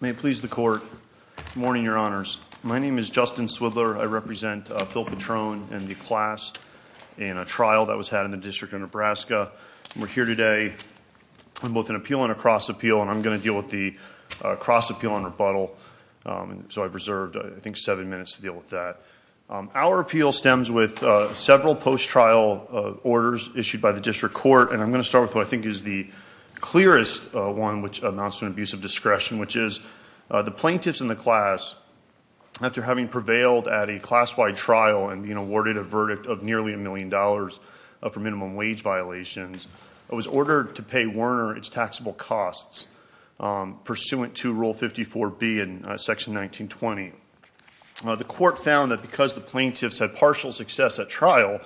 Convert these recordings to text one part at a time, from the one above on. May it please the Court. Good morning, Your Honors. My name is Justin Swidler. I represent Bill Petrone and the class in a trial that was had in the District of Nebraska. We're here today on both an appeal and a cross-appeal, and I'm going to deal with the cross-appeal on rebuttal, so I've reserved, I think, seven minutes to deal with that. Our appeal stems with several post-trial orders issued by the District Court, and I'm going to start with what I think is the clearest one, which amounts to an abuse of discretion, which is the plaintiffs in the class, after having prevailed at a class-wide trial and being awarded a verdict of nearly a million dollars for minimum wage violations, was ordered to pay Werner its taxable costs pursuant to Rule 54B in Section 1920. The court found that because the plaintiffs had partial success at trial,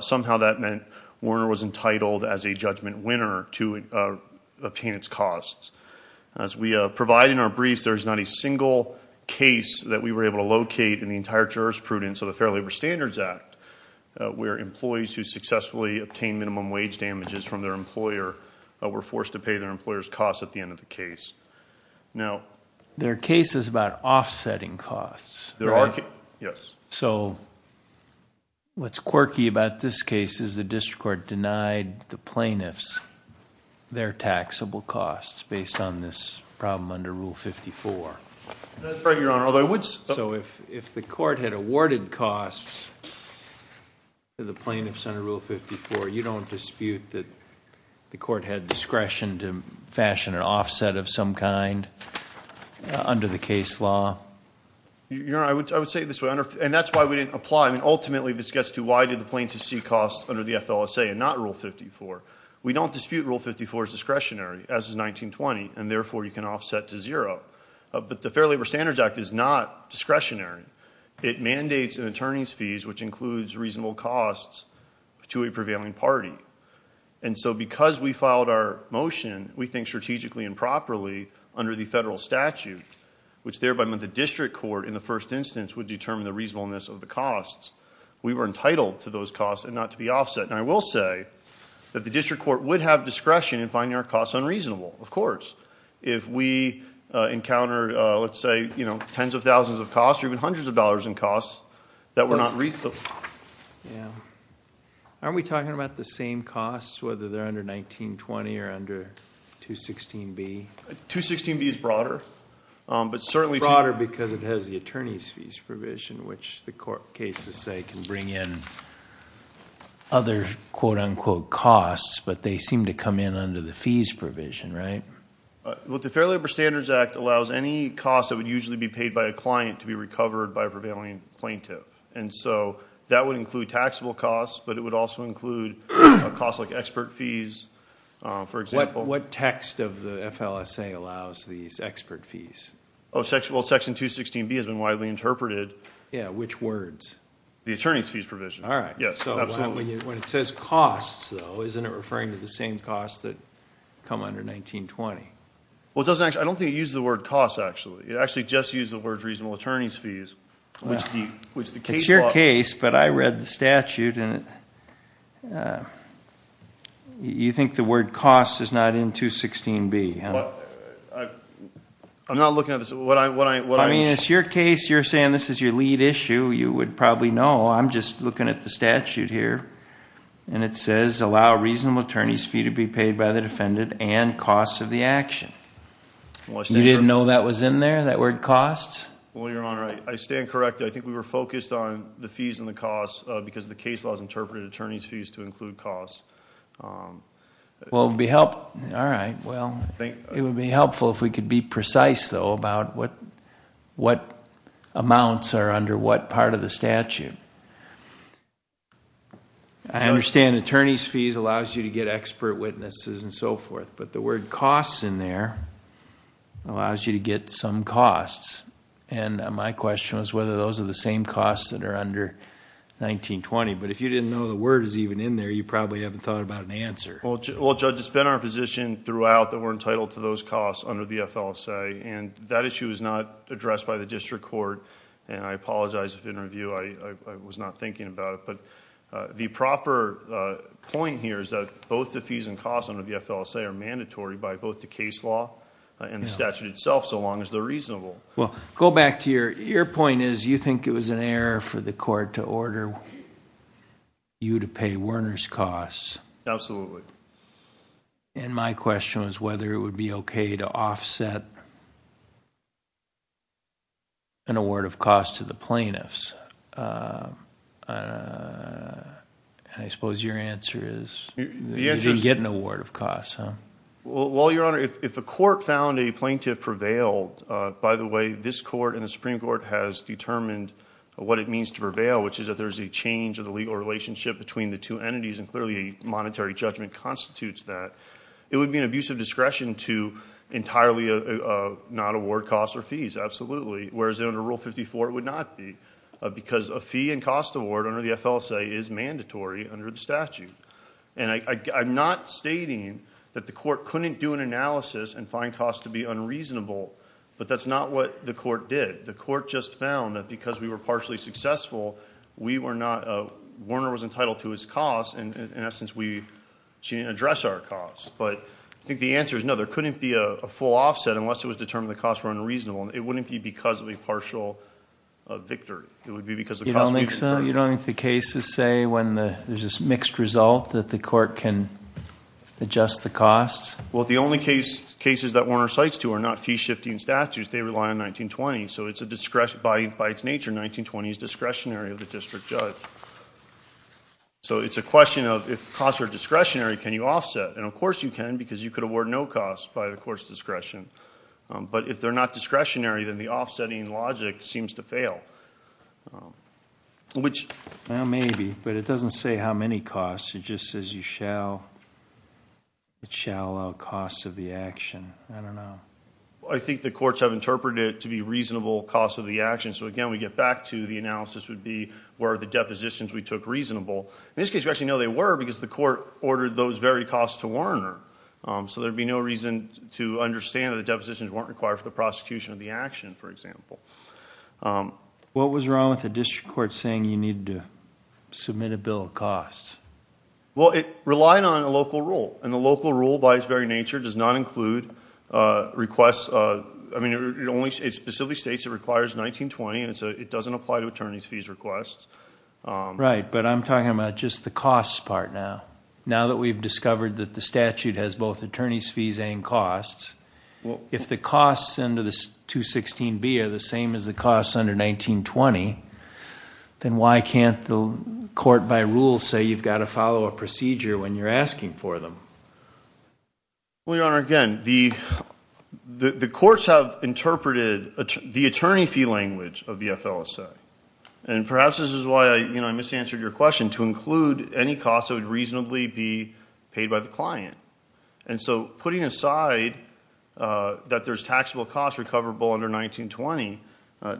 somehow that meant Werner was entitled as a judgment winner to obtain its costs. As we provide in our briefs, there is not a single case that we were able to locate in the entire jurisprudence of the Fair Labor Standards Act where employees who successfully obtained minimum wage damages from their employer were forced to pay their employer's costs at the end of the case. Now... What's quirky about this case is the District Court denied the plaintiffs their taxable costs based on this problem under Rule 54. That's right, Your Honor, although I would... So if the court had awarded costs to the plaintiffs under Rule 54, you don't dispute that the court had discretion to fashion an offset of some kind under the case law? Your Honor, I would say it this way, and that's why we didn't apply. Ultimately this gets to why did the plaintiffs see costs under the FLSA and not Rule 54? We don't dispute Rule 54's discretionary, as is 1920, and therefore you can offset to zero. But the Fair Labor Standards Act is not discretionary. It mandates an attorney's fees which includes reasonable costs to a prevailing party. And so because we filed our motion, we think strategically and properly under the federal statute, which thereby meant the District Court in the first instance would determine the reasonableness of the costs, we were entitled to those costs and not to be offset. And I will say that the District Court would have discretion in finding our costs unreasonable, of course, if we encounter, let's say, you know, tens of thousands of costs or even hundreds of dollars in costs that were not re... Yeah. Aren't we talking about the same costs, whether they're under 1920 or under 216B? 216B is broader, but certainly... Broader because it has the attorney's fees provision, which the court cases say can bring in other quote-unquote costs, but they seem to come in under the fees provision, right? Well, the Fair Labor Standards Act allows any costs that would usually be paid by a plaintiff. And so that would include taxable costs, but it would also include costs like expert fees, for example. What text of the FLSA allows these expert fees? Oh, section... Well, section 216B has been widely interpreted. Yeah, which words? The attorney's fees provision. All right. Yes, absolutely. So when it says costs, though, isn't it referring to the same costs that come under 1920? Well, it doesn't actually... I don't think it uses the word costs, actually. It actually just uses the words reasonable attorney's fees, which the case law... It's your case, but I read the statute, and you think the word costs is not in 216B, huh? I'm not looking at this. What I'm... I mean, it's your case. You're saying this is your lead issue. You would probably know. I'm just looking at the statute here, and it says, allow reasonable attorney's fee to be paid by the defendant and costs of the action. Well, I... You didn't know that was in there, that word costs? Well, Your Honor, I stand corrected. I think we were focused on the fees and the costs because the case law has interpreted attorney's fees to include costs. Well, it would be help... All right. Well, it would be helpful if we could be precise, though, about what amounts are under what part of the statute. I understand attorney's fees allows you to get expert witnesses and so forth, but the word costs in there allows you to get some costs, and my question was whether those are the same costs that are under 19-20, but if you didn't know the word is even in there, you probably haven't thought about an answer. Well, Judge, it's been our position throughout that we're entitled to those costs under the FLSA, and that issue is not addressed by the district court, and I apologize if in review I was not thinking about it, but the proper point here is that both the fees and costs under the FLSA are mandatory by both the case law and the statute itself, so long as they're reasonable. Well, go back to your... Your point is you think it was an error for the court to order you to pay Werner's costs. Absolutely. And my question was whether it would be okay to offset an award of cost to the plaintiffs. I suppose your answer is you didn't get an award of cost, huh? Well, Your Honor, if the court found a plaintiff prevailed, by the way, this court and the Supreme Court has determined what it means to prevail, which is that there's a change of the legal relationship between the two entities, and clearly a monetary judgment constitutes that. It would be an abuse of discretion to entirely not award costs or fees, absolutely, whereas under Rule 54 it would not be, because a fee and cost award under the FLSA is mandatory under the statute. And I'm not stating that the court couldn't do an analysis and find costs to be unreasonable, but that's not what the court did. The court just found that because we were partially successful, Werner was entitled to his costs, and in essence, she didn't address our costs. But I think the answer is no, there couldn't be a full offset unless it was determined the costs were unreasonable, and it wouldn't be because of a partial victory, it would be because the costs were reasonable. You don't think so? You don't think the cases say when there's this mixed result that the court can adjust the costs? Well, the only cases that Werner cites two are not fee-shifting statutes, they rely on 1920, so it's a discretion, by its nature, 1920 is discretionary of the district judge. So it's a question of if costs are discretionary, can you offset, and of course you can, because you could award no costs by the court's discretion. But if they're not discretionary, then the offsetting logic seems to fail. Which... Well, maybe, but it doesn't say how many costs, it just says you shall, it shall allow costs of the action. I don't know. I think the courts have interpreted it to be reasonable costs of the action, so again, we get back to the analysis would be, were the depositions we took reasonable? In this case, we actually know they were because the court ordered those very costs to Werner. So there would be no reason to understand that the depositions weren't required for the prosecution of the action, for example. What was wrong with the district court saying you needed to submit a bill of costs? Well, it relied on a local rule, and the local rule, by its very nature, does not include requests, I mean, it specifically states it requires 1920, and it doesn't apply to attorney's fees requests. Right, but I'm talking about just the costs part now. Now that we've discovered that the statute has both attorney's fees and costs, if the costs under the 216B are the same as the costs under 1920, then why can't the court, by rule, say you've got to follow a procedure when you're asking for them? Well, Your Honor, again, the courts have interpreted the attorney fee language of the FLSA, and And so putting aside that there's taxable costs recoverable under 1920,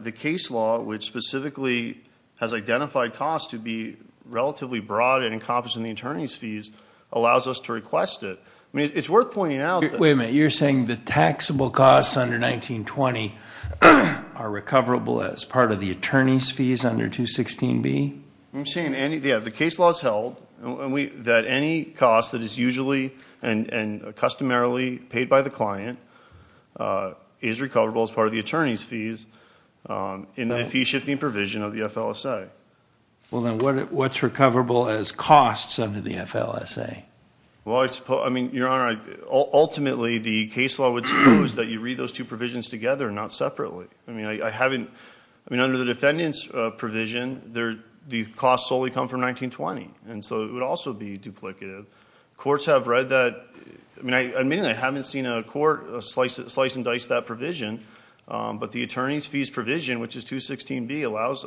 the case law, which specifically has identified costs to be relatively broad and encompassing the attorney's fees, allows us to request it. It's worth pointing out that- Wait a minute. You're saying the taxable costs under 1920 are recoverable as part of the attorney's fees under 216B? I'm saying, yeah, the case law has held that any cost that is usually and customarily paid by the client is recoverable as part of the attorney's fees in the fee-shifting provision of the FLSA. Well, then what's recoverable as costs under the FLSA? Well, I mean, Your Honor, ultimately the case law would suppose that you read those two provisions together, not separately. I mean, under the defendant's provision, the costs solely come from 1920, and so it would also be duplicative. Courts have read that. I mean, I admit I haven't seen a court slice and dice that provision, but the attorney's fees provision, which is 216B, allows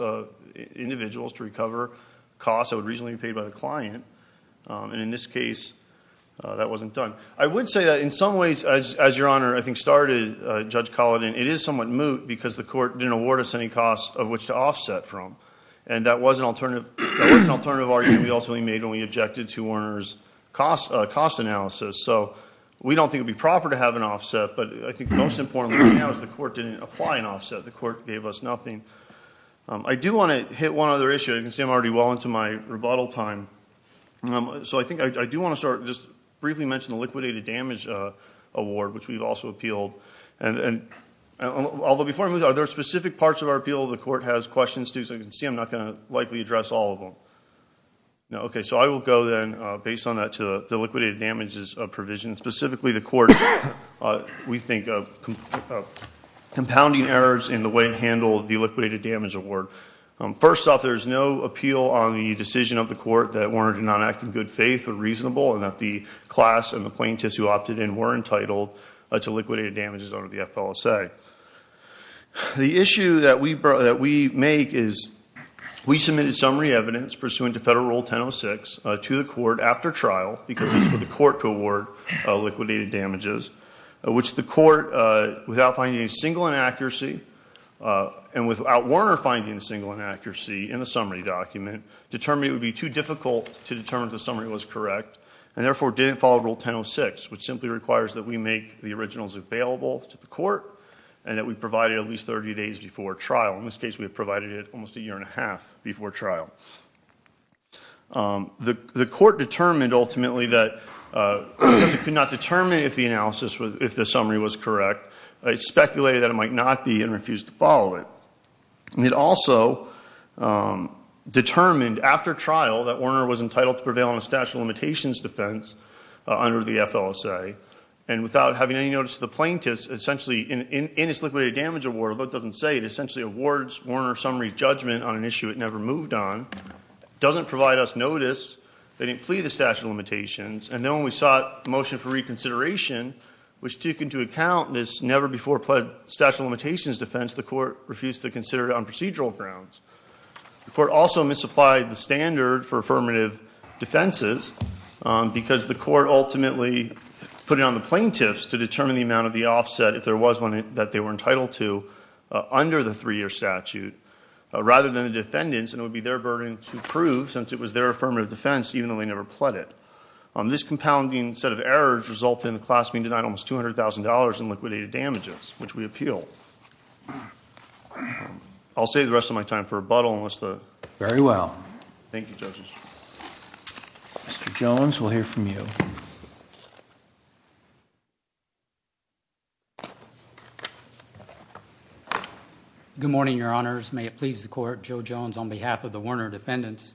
individuals to recover costs that would reasonably be paid by the client, and in this case, that wasn't done. I would say that in some ways, as Your Honor, I think, started Judge Colladan, it is somewhat moot, because the court didn't award us any costs of which to offset from, and that was an alternative argument we ultimately made when we objected to Werner's cost analysis. So we don't think it would be proper to have an offset, but I think most importantly right now is the court didn't apply an offset. The court gave us nothing. I do want to hit one other issue. You can see I'm already well into my rebuttal time. So I think I do want to start, just briefly mention the liquidated damage award, which we've also appealed, although before I move on, are there specific parts of our appeal the court has questions to? As you can see, I'm not going to likely address all of them. Okay, so I will go then, based on that, to the liquidated damages provision, specifically the court, we think, of compounding errors in the way it handled the liquidated damage award. First off, there's no appeal on the decision of the court that Werner did not act in good to liquidated damages under the FLSA. The issue that we make is we submitted summary evidence pursuant to Federal Rule 1006 to the court after trial, because it's for the court to award liquidated damages, which the court, without finding a single inaccuracy, and without Werner finding a single inaccuracy in the summary document, determined it would be too difficult to determine if the summary was correct, and therefore didn't follow Rule 1006, which simply requires that we make the originals available to the court, and that we provide it at least 30 days before trial. In this case, we provided it almost a year and a half before trial. The court determined, ultimately, that because it could not determine if the analysis, if the summary was correct, it speculated that it might not be and refused to follow it. It also determined, after trial, that Werner was entitled to prevail on a statute of limitations defense under the FLSA, and without having any notice to the plaintiffs, essentially, in its liquidated damage award, although it doesn't say, it essentially awards Werner's summary judgment on an issue it never moved on, doesn't provide us notice, they didn't plead the statute of limitations, and then when we sought motion for reconsideration, which took into account this never before pled statute of limitations defense, the court refused to consider it on procedural grounds. The court also misapplied the standard for affirmative defenses, because the court ultimately put it on the plaintiffs to determine the amount of the offset, if there was one, that they were entitled to under the three-year statute, rather than the defendants, and it would be their burden to prove, since it was their affirmative defense, even though they never pled it. This compounding set of errors resulted in the class being denied almost $200,000 in I'll save the rest of my time for rebuttal, unless the... Very well. Thank you, judges. Mr. Jones, we'll hear from you. Good morning, your honors. May it please the court, Joe Jones on behalf of the Werner defendants,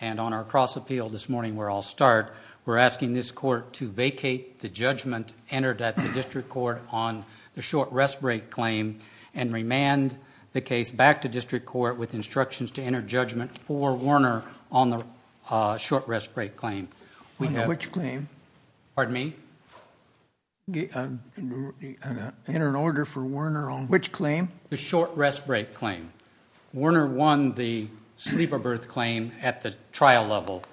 and on our cross appeal this morning, where I'll start, we're asking this court to vacate the judgment entered at the district court on the short rest break claim, and remand the case back to district court with instructions to enter judgment for Werner on the short rest break claim. Which claim? Pardon me? Enter an order for Werner on... Which claim? The short rest break claim. Werner won the sleeper berth claim at the trial level,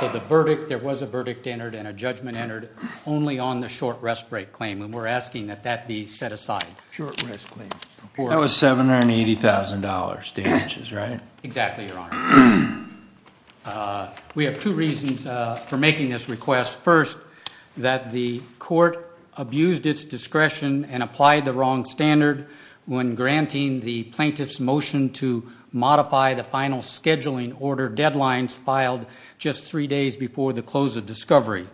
so there was a verdict entered and a judgment entered only on the short rest break claim, and we're asking that that be set aside. Short rest break claim. That was $780,000, right? Exactly, your honor. We have two reasons for making this request. First, that the court abused its discretion and applied the wrong standard when granting the plaintiff's motion to modify the final scheduling order deadlines filed just three days before the close of discovery.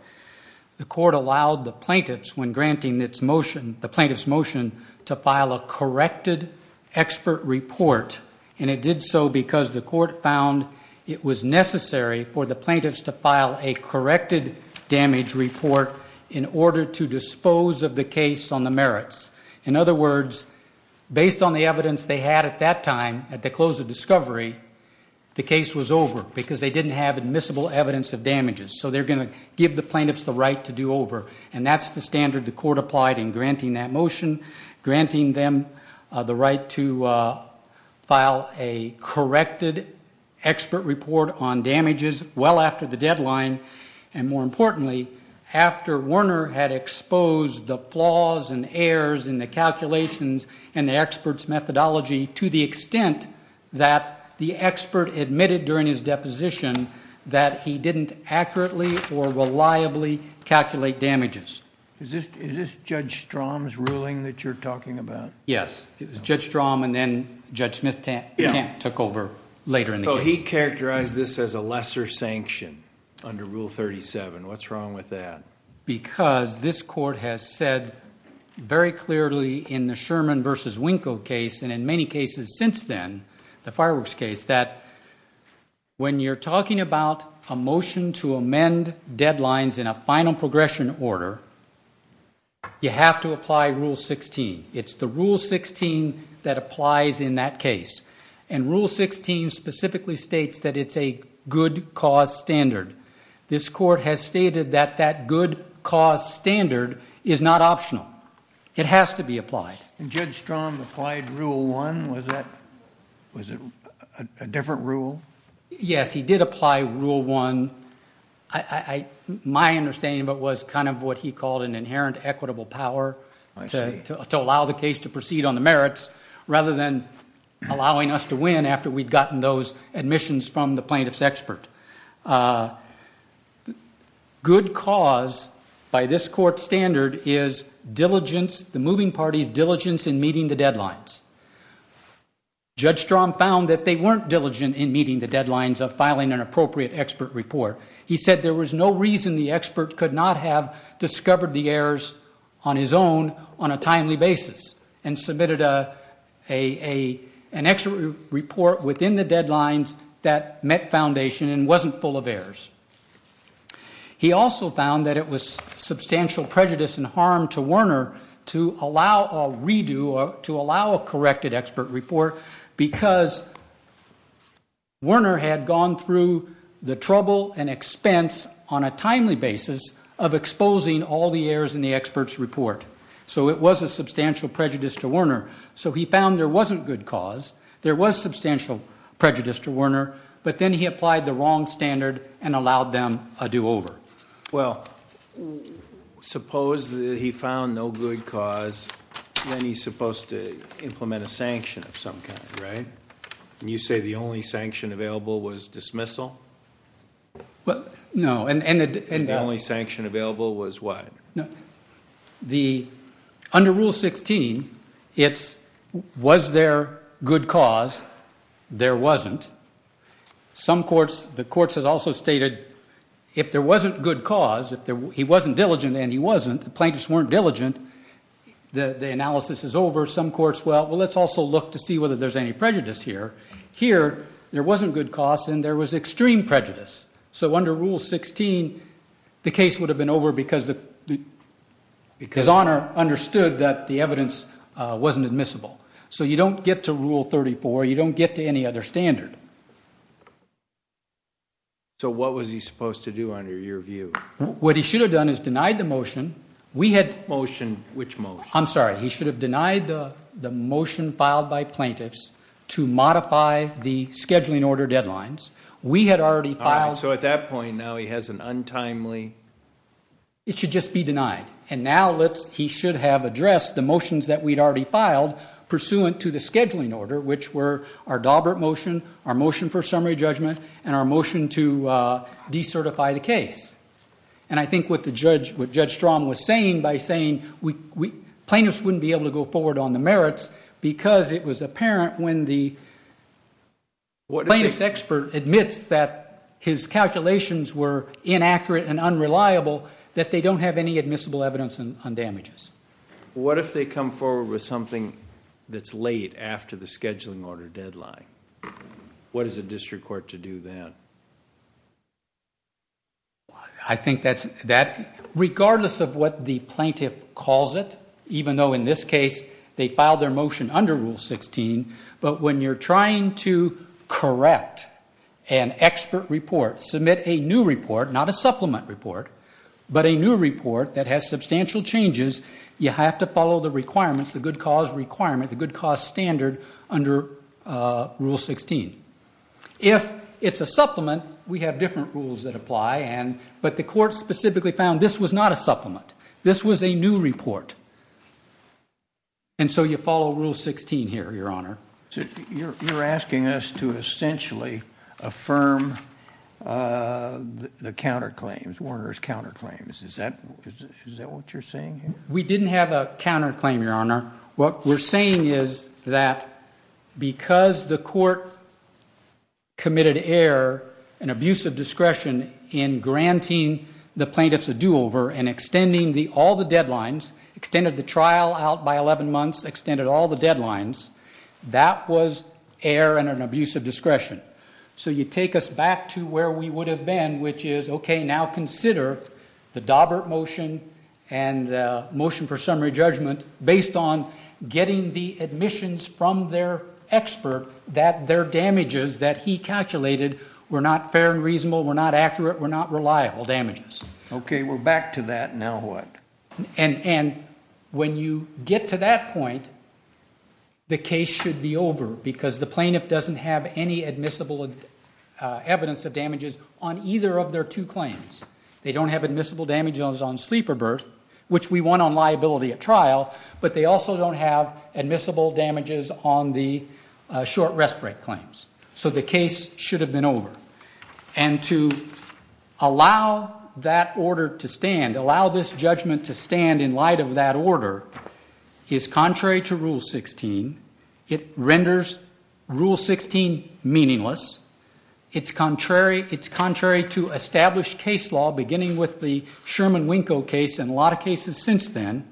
The court allowed the plaintiffs, when granting the plaintiff's motion, to file a corrected expert report, and it did so because the court found it was necessary for the plaintiffs to file a corrected damage report in order to dispose of the case on the merits. In other words, based on the evidence they had at that time, at the close of discovery, the case was over because they didn't have admissible evidence of damages, so they're going to give the plaintiffs the right to do over, and that's the standard the court applied in granting that motion, granting them the right to file a corrected expert report on damages well after the deadline, and more importantly, after Werner had exposed the flaws and errors in the calculations and the expert's methodology to the extent that the expert admitted during his deposition that he didn't accurately or reliably calculate damages. Is this Judge Strom's ruling that you're talking about? Yes. It was Judge Strom, and then Judge Smith-Kamp took over later in the case. He characterized this as a lesser sanction under Rule 37. What's wrong with that? Because this Court has said very clearly in the Sherman v. Winko case, and in many cases since then, the fireworks case, that when you're talking about a motion to amend deadlines in a final progression order, you have to apply Rule 16. It's the Rule 16 that applies in that case, and Rule 16 specifically states that it's a good cause standard. This Court has stated that that good cause standard is not optional. It has to be applied. And Judge Strom applied Rule 1? Was it a different rule? Yes. He did apply Rule 1. My understanding of it was kind of what he called an inherent equitable power to allow the case to proceed on the merits rather than allowing us to win after we'd gotten those plaintiff's expert. Good cause by this Court's standard is the moving party's diligence in meeting the deadlines. Judge Strom found that they weren't diligent in meeting the deadlines of filing an appropriate expert report. He said there was no reason the expert could not have discovered the errors on his own on a timely basis and submitted an expert report within the deadlines that met foundation and wasn't full of errors. He also found that it was substantial prejudice and harm to Werner to allow a redo or to allow a corrected expert report because Werner had gone through the trouble and expense on a So it was a substantial prejudice to Werner. So he found there wasn't good cause. There was substantial prejudice to Werner. But then he applied the wrong standard and allowed them a do-over. Well, suppose that he found no good cause, then he's supposed to implement a sanction of some kind, right? You say the only sanction available was dismissal? No. And the only sanction available was what? Under Rule 16, it's was there good cause? There wasn't. Some courts, the courts have also stated if there wasn't good cause, if he wasn't diligent and he wasn't, the plaintiffs weren't diligent, the analysis is over. Some courts, well, let's also look to see whether there's any prejudice here. Here, there wasn't good cause and there was extreme prejudice. So under Rule 16, the case would have been over because Werner understood that the evidence wasn't admissible. So you don't get to Rule 34. You don't get to any other standard. So what was he supposed to do under your view? What he should have done is denied the motion. We had motion. Which motion? I'm sorry. He should have denied the motion filed by plaintiffs to modify the scheduling order deadlines. We had already filed. All right. So at that point, now he has an untimely... It should just be denied. And now he should have addressed the motions that we'd already filed pursuant to the scheduling order, which were our Daubert motion, our motion for summary judgment, and our motion to decertify the case. And I think what Judge Strom was saying by saying plaintiffs wouldn't be able to go forward on the merits because it was apparent when the plaintiff's expert admits that his calculations were inaccurate and unreliable that they don't have any admissible evidence on damages. What if they come forward with something that's late after the scheduling order deadline? What is a district court to do then? I think that regardless of what the plaintiff calls it, even though in this case they filed their motion under Rule 16, but when you're trying to correct an expert report, submit a new report, not a supplement report, but a new report that has substantial changes, you have to follow the requirements, the good cause requirement, the good cause standard under Rule 16. If it's a supplement, we have different rules that apply, but the court specifically found this was not a supplement. This was a new report. And so you follow Rule 16 here, Your Honor. You're asking us to essentially affirm the counterclaims, Warner's counterclaims. Is that what you're saying here? We didn't have a counterclaim, Your Honor. What we're saying is that because the court committed error and abuse of discretion in granting the plaintiffs a do-over and extending all the deadlines, extended the trial out by 11 months, extended all the deadlines, that was error and an abuse of discretion. So you take us back to where we would have been, which is, okay, now consider the Daubert motion and the motion for summary judgment based on getting the admissions from their expert that their damages that he calculated were not fair and reasonable, were not accurate, were not reliable damages. Okay. We're back to that. Now what? And when you get to that point, the case should be over because the plaintiff doesn't have any admissible evidence of damages on either of their two claims. They don't have admissible damages on sleep or birth, which we want on liability at trial, but they also don't have admissible damages on the short rest break claims. So the case should have been over. And to allow that order to stand, allow this judgment to stand in light of that order is contrary to Rule 16. It renders Rule 16 meaningless. It's contrary to established case law, beginning with the Sherman Winko case and a lot of cases since then.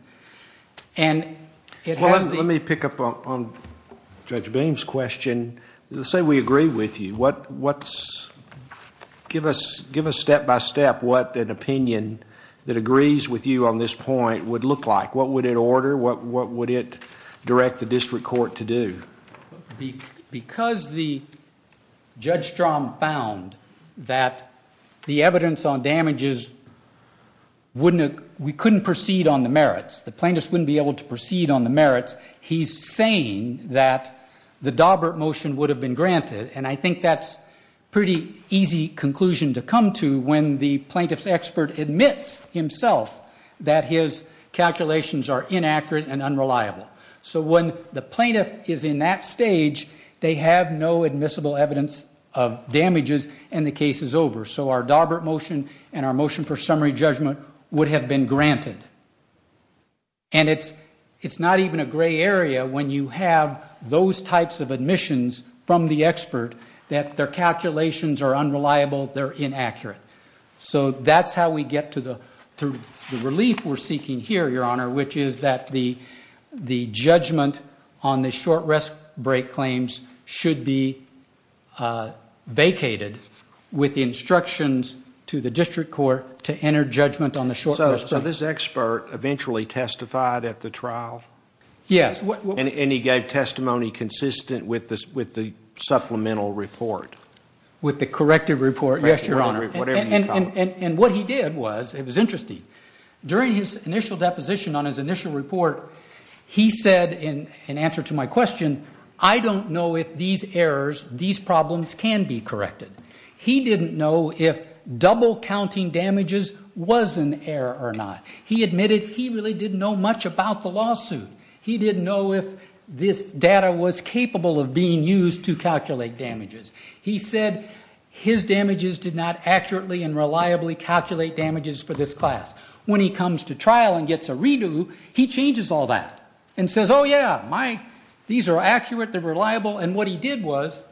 And it has the- Well, let me pick up on Judge Beam's question. Let's say we agree with you, give us step-by-step what an opinion that agrees with you on this point would look like. What would it order? What would it direct the district court to do? Because the judge found that the evidence on damages, we couldn't proceed on the merits, the plaintiff wouldn't be able to proceed on the merits, he's saying that the Dawbert motion would have been granted. And I think that's a pretty easy conclusion to come to when the plaintiff's expert admits himself that his calculations are inaccurate and unreliable. So when the plaintiff is in that stage, they have no admissible evidence of damages and the case is over. So our Dawbert motion and our motion for summary judgment would have been granted. And it's not even a gray area when you have those types of admissions from the expert that their calculations are unreliable, they're inaccurate. So that's how we get to the relief we're seeking here, Your Honor, which is that the judgment on the short rest break claims should be vacated with the instructions to the district court to enter judgment on the short rest break. So this expert eventually testified at the trial? Yes. And he gave testimony consistent with the supplemental report? With the corrective report, yes, Your Honor. And what he did was, it was interesting, during his initial deposition on his initial report, he said in answer to my question, I don't know if these errors, these problems can be corrected. He didn't know if double counting damages was an error or not. He admitted he really didn't know much about the lawsuit. He didn't know if this data was capable of being used to calculate damages. He said his damages did not accurately and reliably calculate damages for this class. When he comes to trial and gets a redo, he changes all that and says, oh, yeah, my, these are accurate, they're reliable. And what he did was,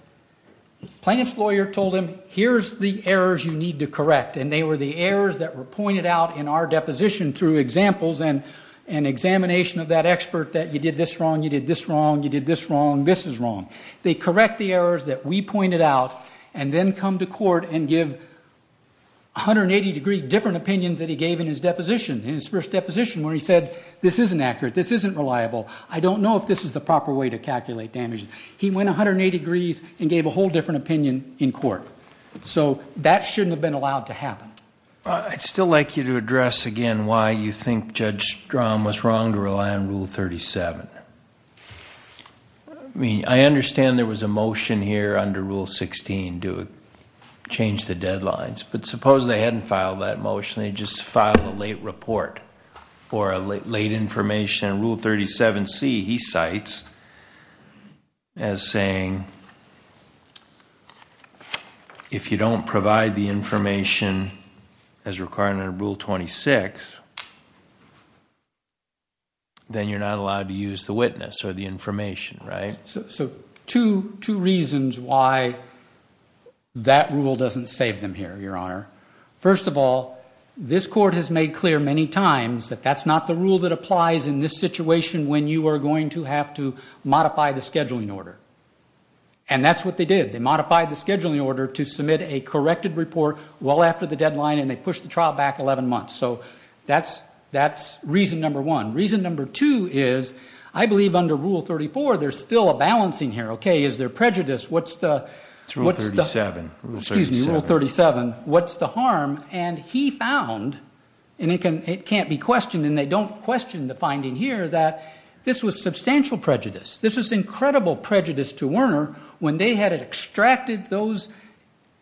plaintiff's lawyer told him, here's the errors you need to correct. And they were the errors that were pointed out in our deposition through examples and examination of that expert that you did this wrong, you did this wrong, you did this wrong, this is wrong. They correct the errors that we pointed out and then come to court and give 180-degree different opinions that he gave in his deposition, in his first deposition, where he said, this isn't accurate, this isn't reliable, I don't know if this is the proper way to calculate damages. He went 180 degrees and gave a whole different opinion in court. So that shouldn't have been allowed to happen. I'd still like you to address again why you think Judge Strom was wrong to rely on Rule 37. I mean, I understand there was a motion here under Rule 16 to change the deadlines. But suppose they hadn't filed that motion, they just filed a late report or a late information. And Rule 37c, he cites as saying, if you don't provide the information as required under Rule 26, then you're not allowed to use the witness or the information, right? So two reasons why that rule doesn't save them here, Your Honor. First of all, this court has made clear many times that that's not the rule that applies in this situation when you are going to have to modify the scheduling order. And that's what they did. They modified the scheduling order to submit a corrected report well after the deadline and they pushed the trial back 11 months. So that's reason number one. Reason number two is, I believe under Rule 34, there's still a balancing here, okay? Is there prejudice? What's the... It's Rule 37. Excuse me. Rule 37. What's the harm? And he found, and it can't be questioned and they don't question the finding here, that this was substantial prejudice. This was incredible prejudice to Werner when they had extracted those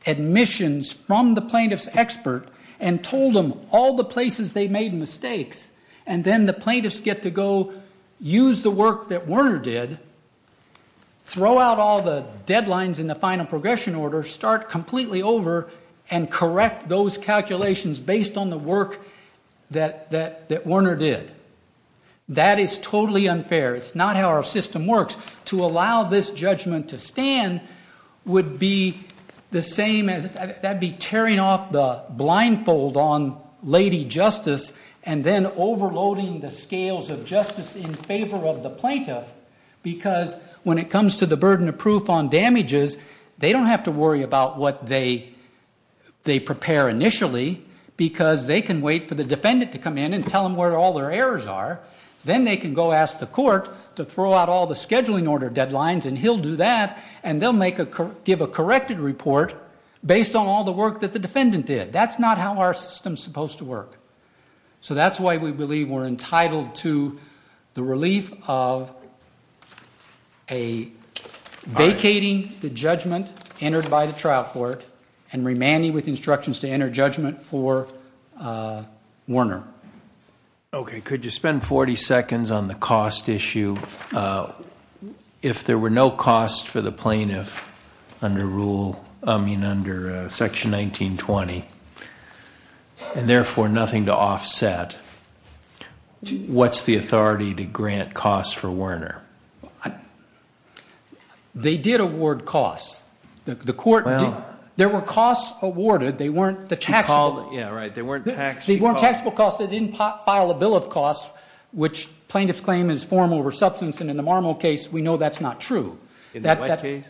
admissions from the order and told them all the places they made mistakes and then the plaintiffs get to go use the work that Werner did, throw out all the deadlines in the final progression order, start completely over and correct those calculations based on the work that Werner did. That is totally unfair. It's not how our system works. Of course, to allow this judgment to stand would be the same as... That'd be tearing off the blindfold on Lady Justice and then overloading the scales of justice in favor of the plaintiff because when it comes to the burden of proof on damages, they don't have to worry about what they prepare initially because they can wait for the defendant to come in and tell them where all their errors are. Then they can go ask the court to throw out all the scheduling order deadlines and he'll do that and they'll give a corrected report based on all the work that the defendant did. That's not how our system's supposed to work. So that's why we believe we're entitled to the relief of vacating the judgment entered by the trial court and remanding with instructions to enter judgment for Werner. Okay. Could you spend 40 seconds on the cost issue? If there were no cost for the plaintiff under rule, I mean under section 1920 and therefore nothing to offset, what's the authority to grant costs for Werner? They did award costs. The court... There were costs awarded. They weren't the taxable... She called... There were costs that didn't file a bill of costs which plaintiff's claim is form over substance and in the Marmo case, we know that's not true. In the what case?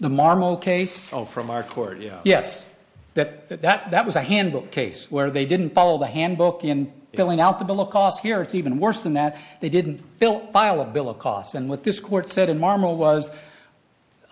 The Marmo case. Oh, from our court, yeah. Yes. That was a handbook case where they didn't follow the handbook in filling out the bill of costs. Here, it's even worse than that. They didn't file a bill of costs and what this court said in Marmo was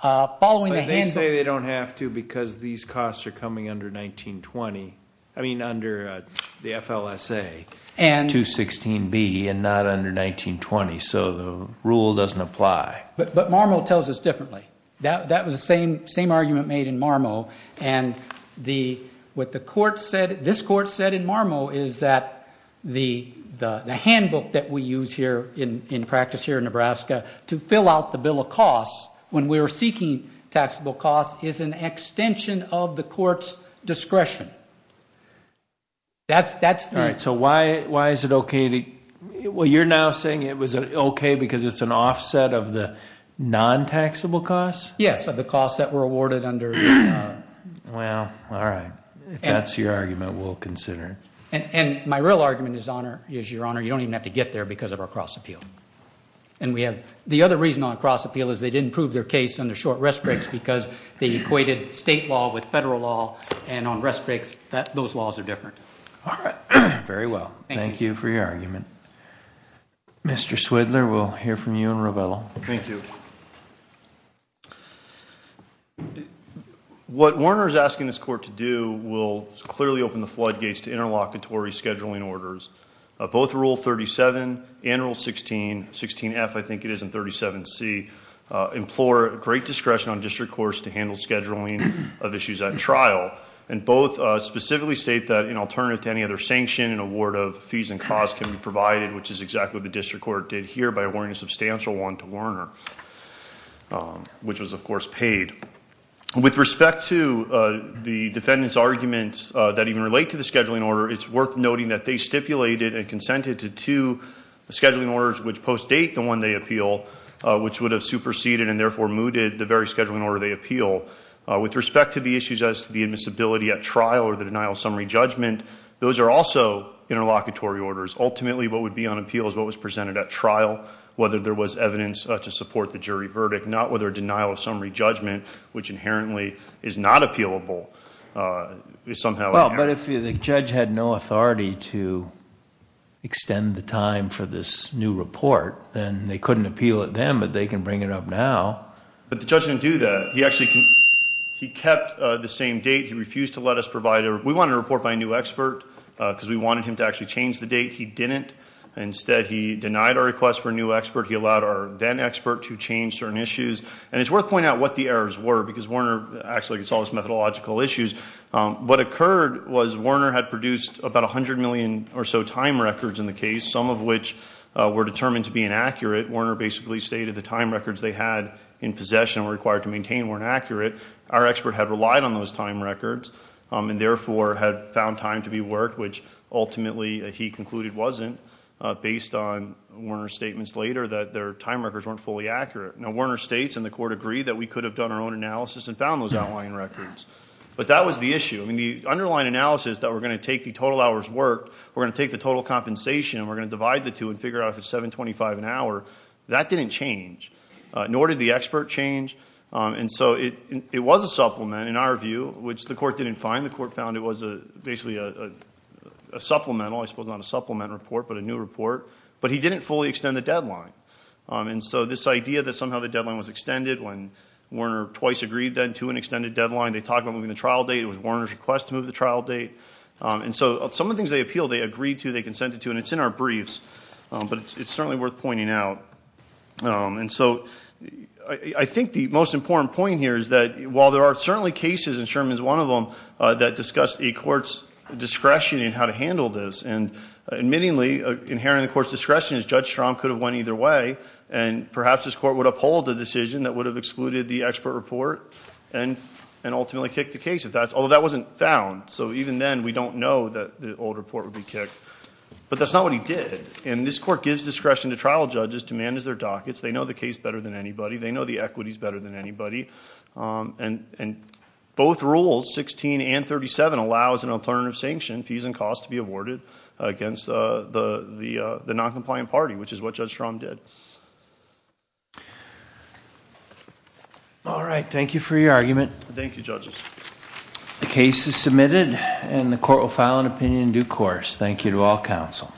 following the handbook... But they say they don't have to because these costs are coming under 1920. I mean under the FLSA 216B and not under 1920, so the rule doesn't apply. But Marmo tells us differently. That was the same argument made in Marmo and what the court said... This court said in Marmo is that the handbook that we use here in practice here in Nebraska to fill out the bill of costs when we were seeking taxable costs is an extension of the That's the... All right. So why is it okay to... You're now saying it was okay because it's an offset of the non-taxable costs? Yes. Of the costs that were awarded under... Wow. All right. If that's your argument, we'll consider it. My real argument is your honor, you don't even have to get there because of our cross appeal. The other reason on cross appeal is they didn't prove their case on the short rest breaks because they equated state law with federal law and on rest breaks, those laws are different. All right. Very well. Thank you for your argument. Mr. Swidler, we'll hear from you and Robello. Thank you. What Warner is asking this court to do will clearly open the floodgates to interlocutory scheduling orders. Both rule 37 and rule 16, 16F, I think it is, and 37C, implore great discretion on district courts to handle scheduling of issues at trial. And both specifically state that in alternative to any other sanction, an award of fees and costs can be provided, which is exactly what the district court did here by awarding a substantial one to Warner, which was of course paid. With respect to the defendant's arguments that even relate to the scheduling order, it's worth noting that they stipulated and consented to two scheduling orders which post-date the one they appeal, which would have superseded and therefore mooted the very scheduling order they appeal. With respect to the issues as to the admissibility at trial or the denial of summary judgment, those are also interlocutory orders. Ultimately, what would be on appeal is what was presented at trial, whether there was evidence to support the jury verdict, not whether denial of summary judgment, which inherently is not appealable, is somehow- But if the judge had no authority to extend the time for this new report, then they couldn't appeal it then, but they can bring it up now. But the judge didn't do that. He kept the same date. He refused to let us provide a... We wanted a report by a new expert because we wanted him to actually change the date. He didn't. Instead, he denied our request for a new expert. He allowed our then expert to change certain issues. And it's worth pointing out what the errors were because Warner actually could solve this methodological issues. What occurred was Warner had produced about 100 million or so time records in the case, some of which were determined to be inaccurate. Warner basically stated the time records they had in possession or required to maintain weren't accurate. Our expert had relied on those time records and therefore had found time to be worked, which ultimately he concluded wasn't based on Warner's statements later that their time records weren't fully accurate. Now, Warner states, and the court agreed, that we could have done our own analysis and found those outlying records. But that was the issue. The underlying analysis that we're going to take the total hours worked, we're going to take the total compensation, and we're going to divide the two and figure out if it's $7.25 an hour, that didn't change, nor did the expert change. And so it was a supplement, in our view, which the court didn't find. The court found it was basically a supplemental, I suppose not a supplement report, but a new report. But he didn't fully extend the deadline. And so this idea that somehow the deadline was extended when Warner twice agreed then to an extended deadline. They talked about moving the trial date. It was Warner's request to move the trial date. And so some of the things they appealed, they agreed to, they consented to, and it's in our briefs. But it's certainly worth pointing out. And so I think the most important point here is that while there are certainly cases, and Sherman's one of them, that discuss a court's discretion in how to handle this. And admittingly, inherent in the court's discretion is Judge Strom could have went either way, and perhaps this court would uphold the decision that would have excluded the expert report and ultimately kick the case, although that wasn't found. So even then, we don't know that the old report would be kicked. But that's not what he did. And this court gives discretion to trial judges to manage their dockets. They know the case better than anybody. They know the equities better than anybody. And both rules, 16 and 37, allows an alternative sanction, fees and costs, to be awarded against the noncompliant party, which is what Judge Strom did. All right. Thank you for your argument. Thank you, judges. The case is submitted, and the court will file an opinion in due course. Thank you to all counsel.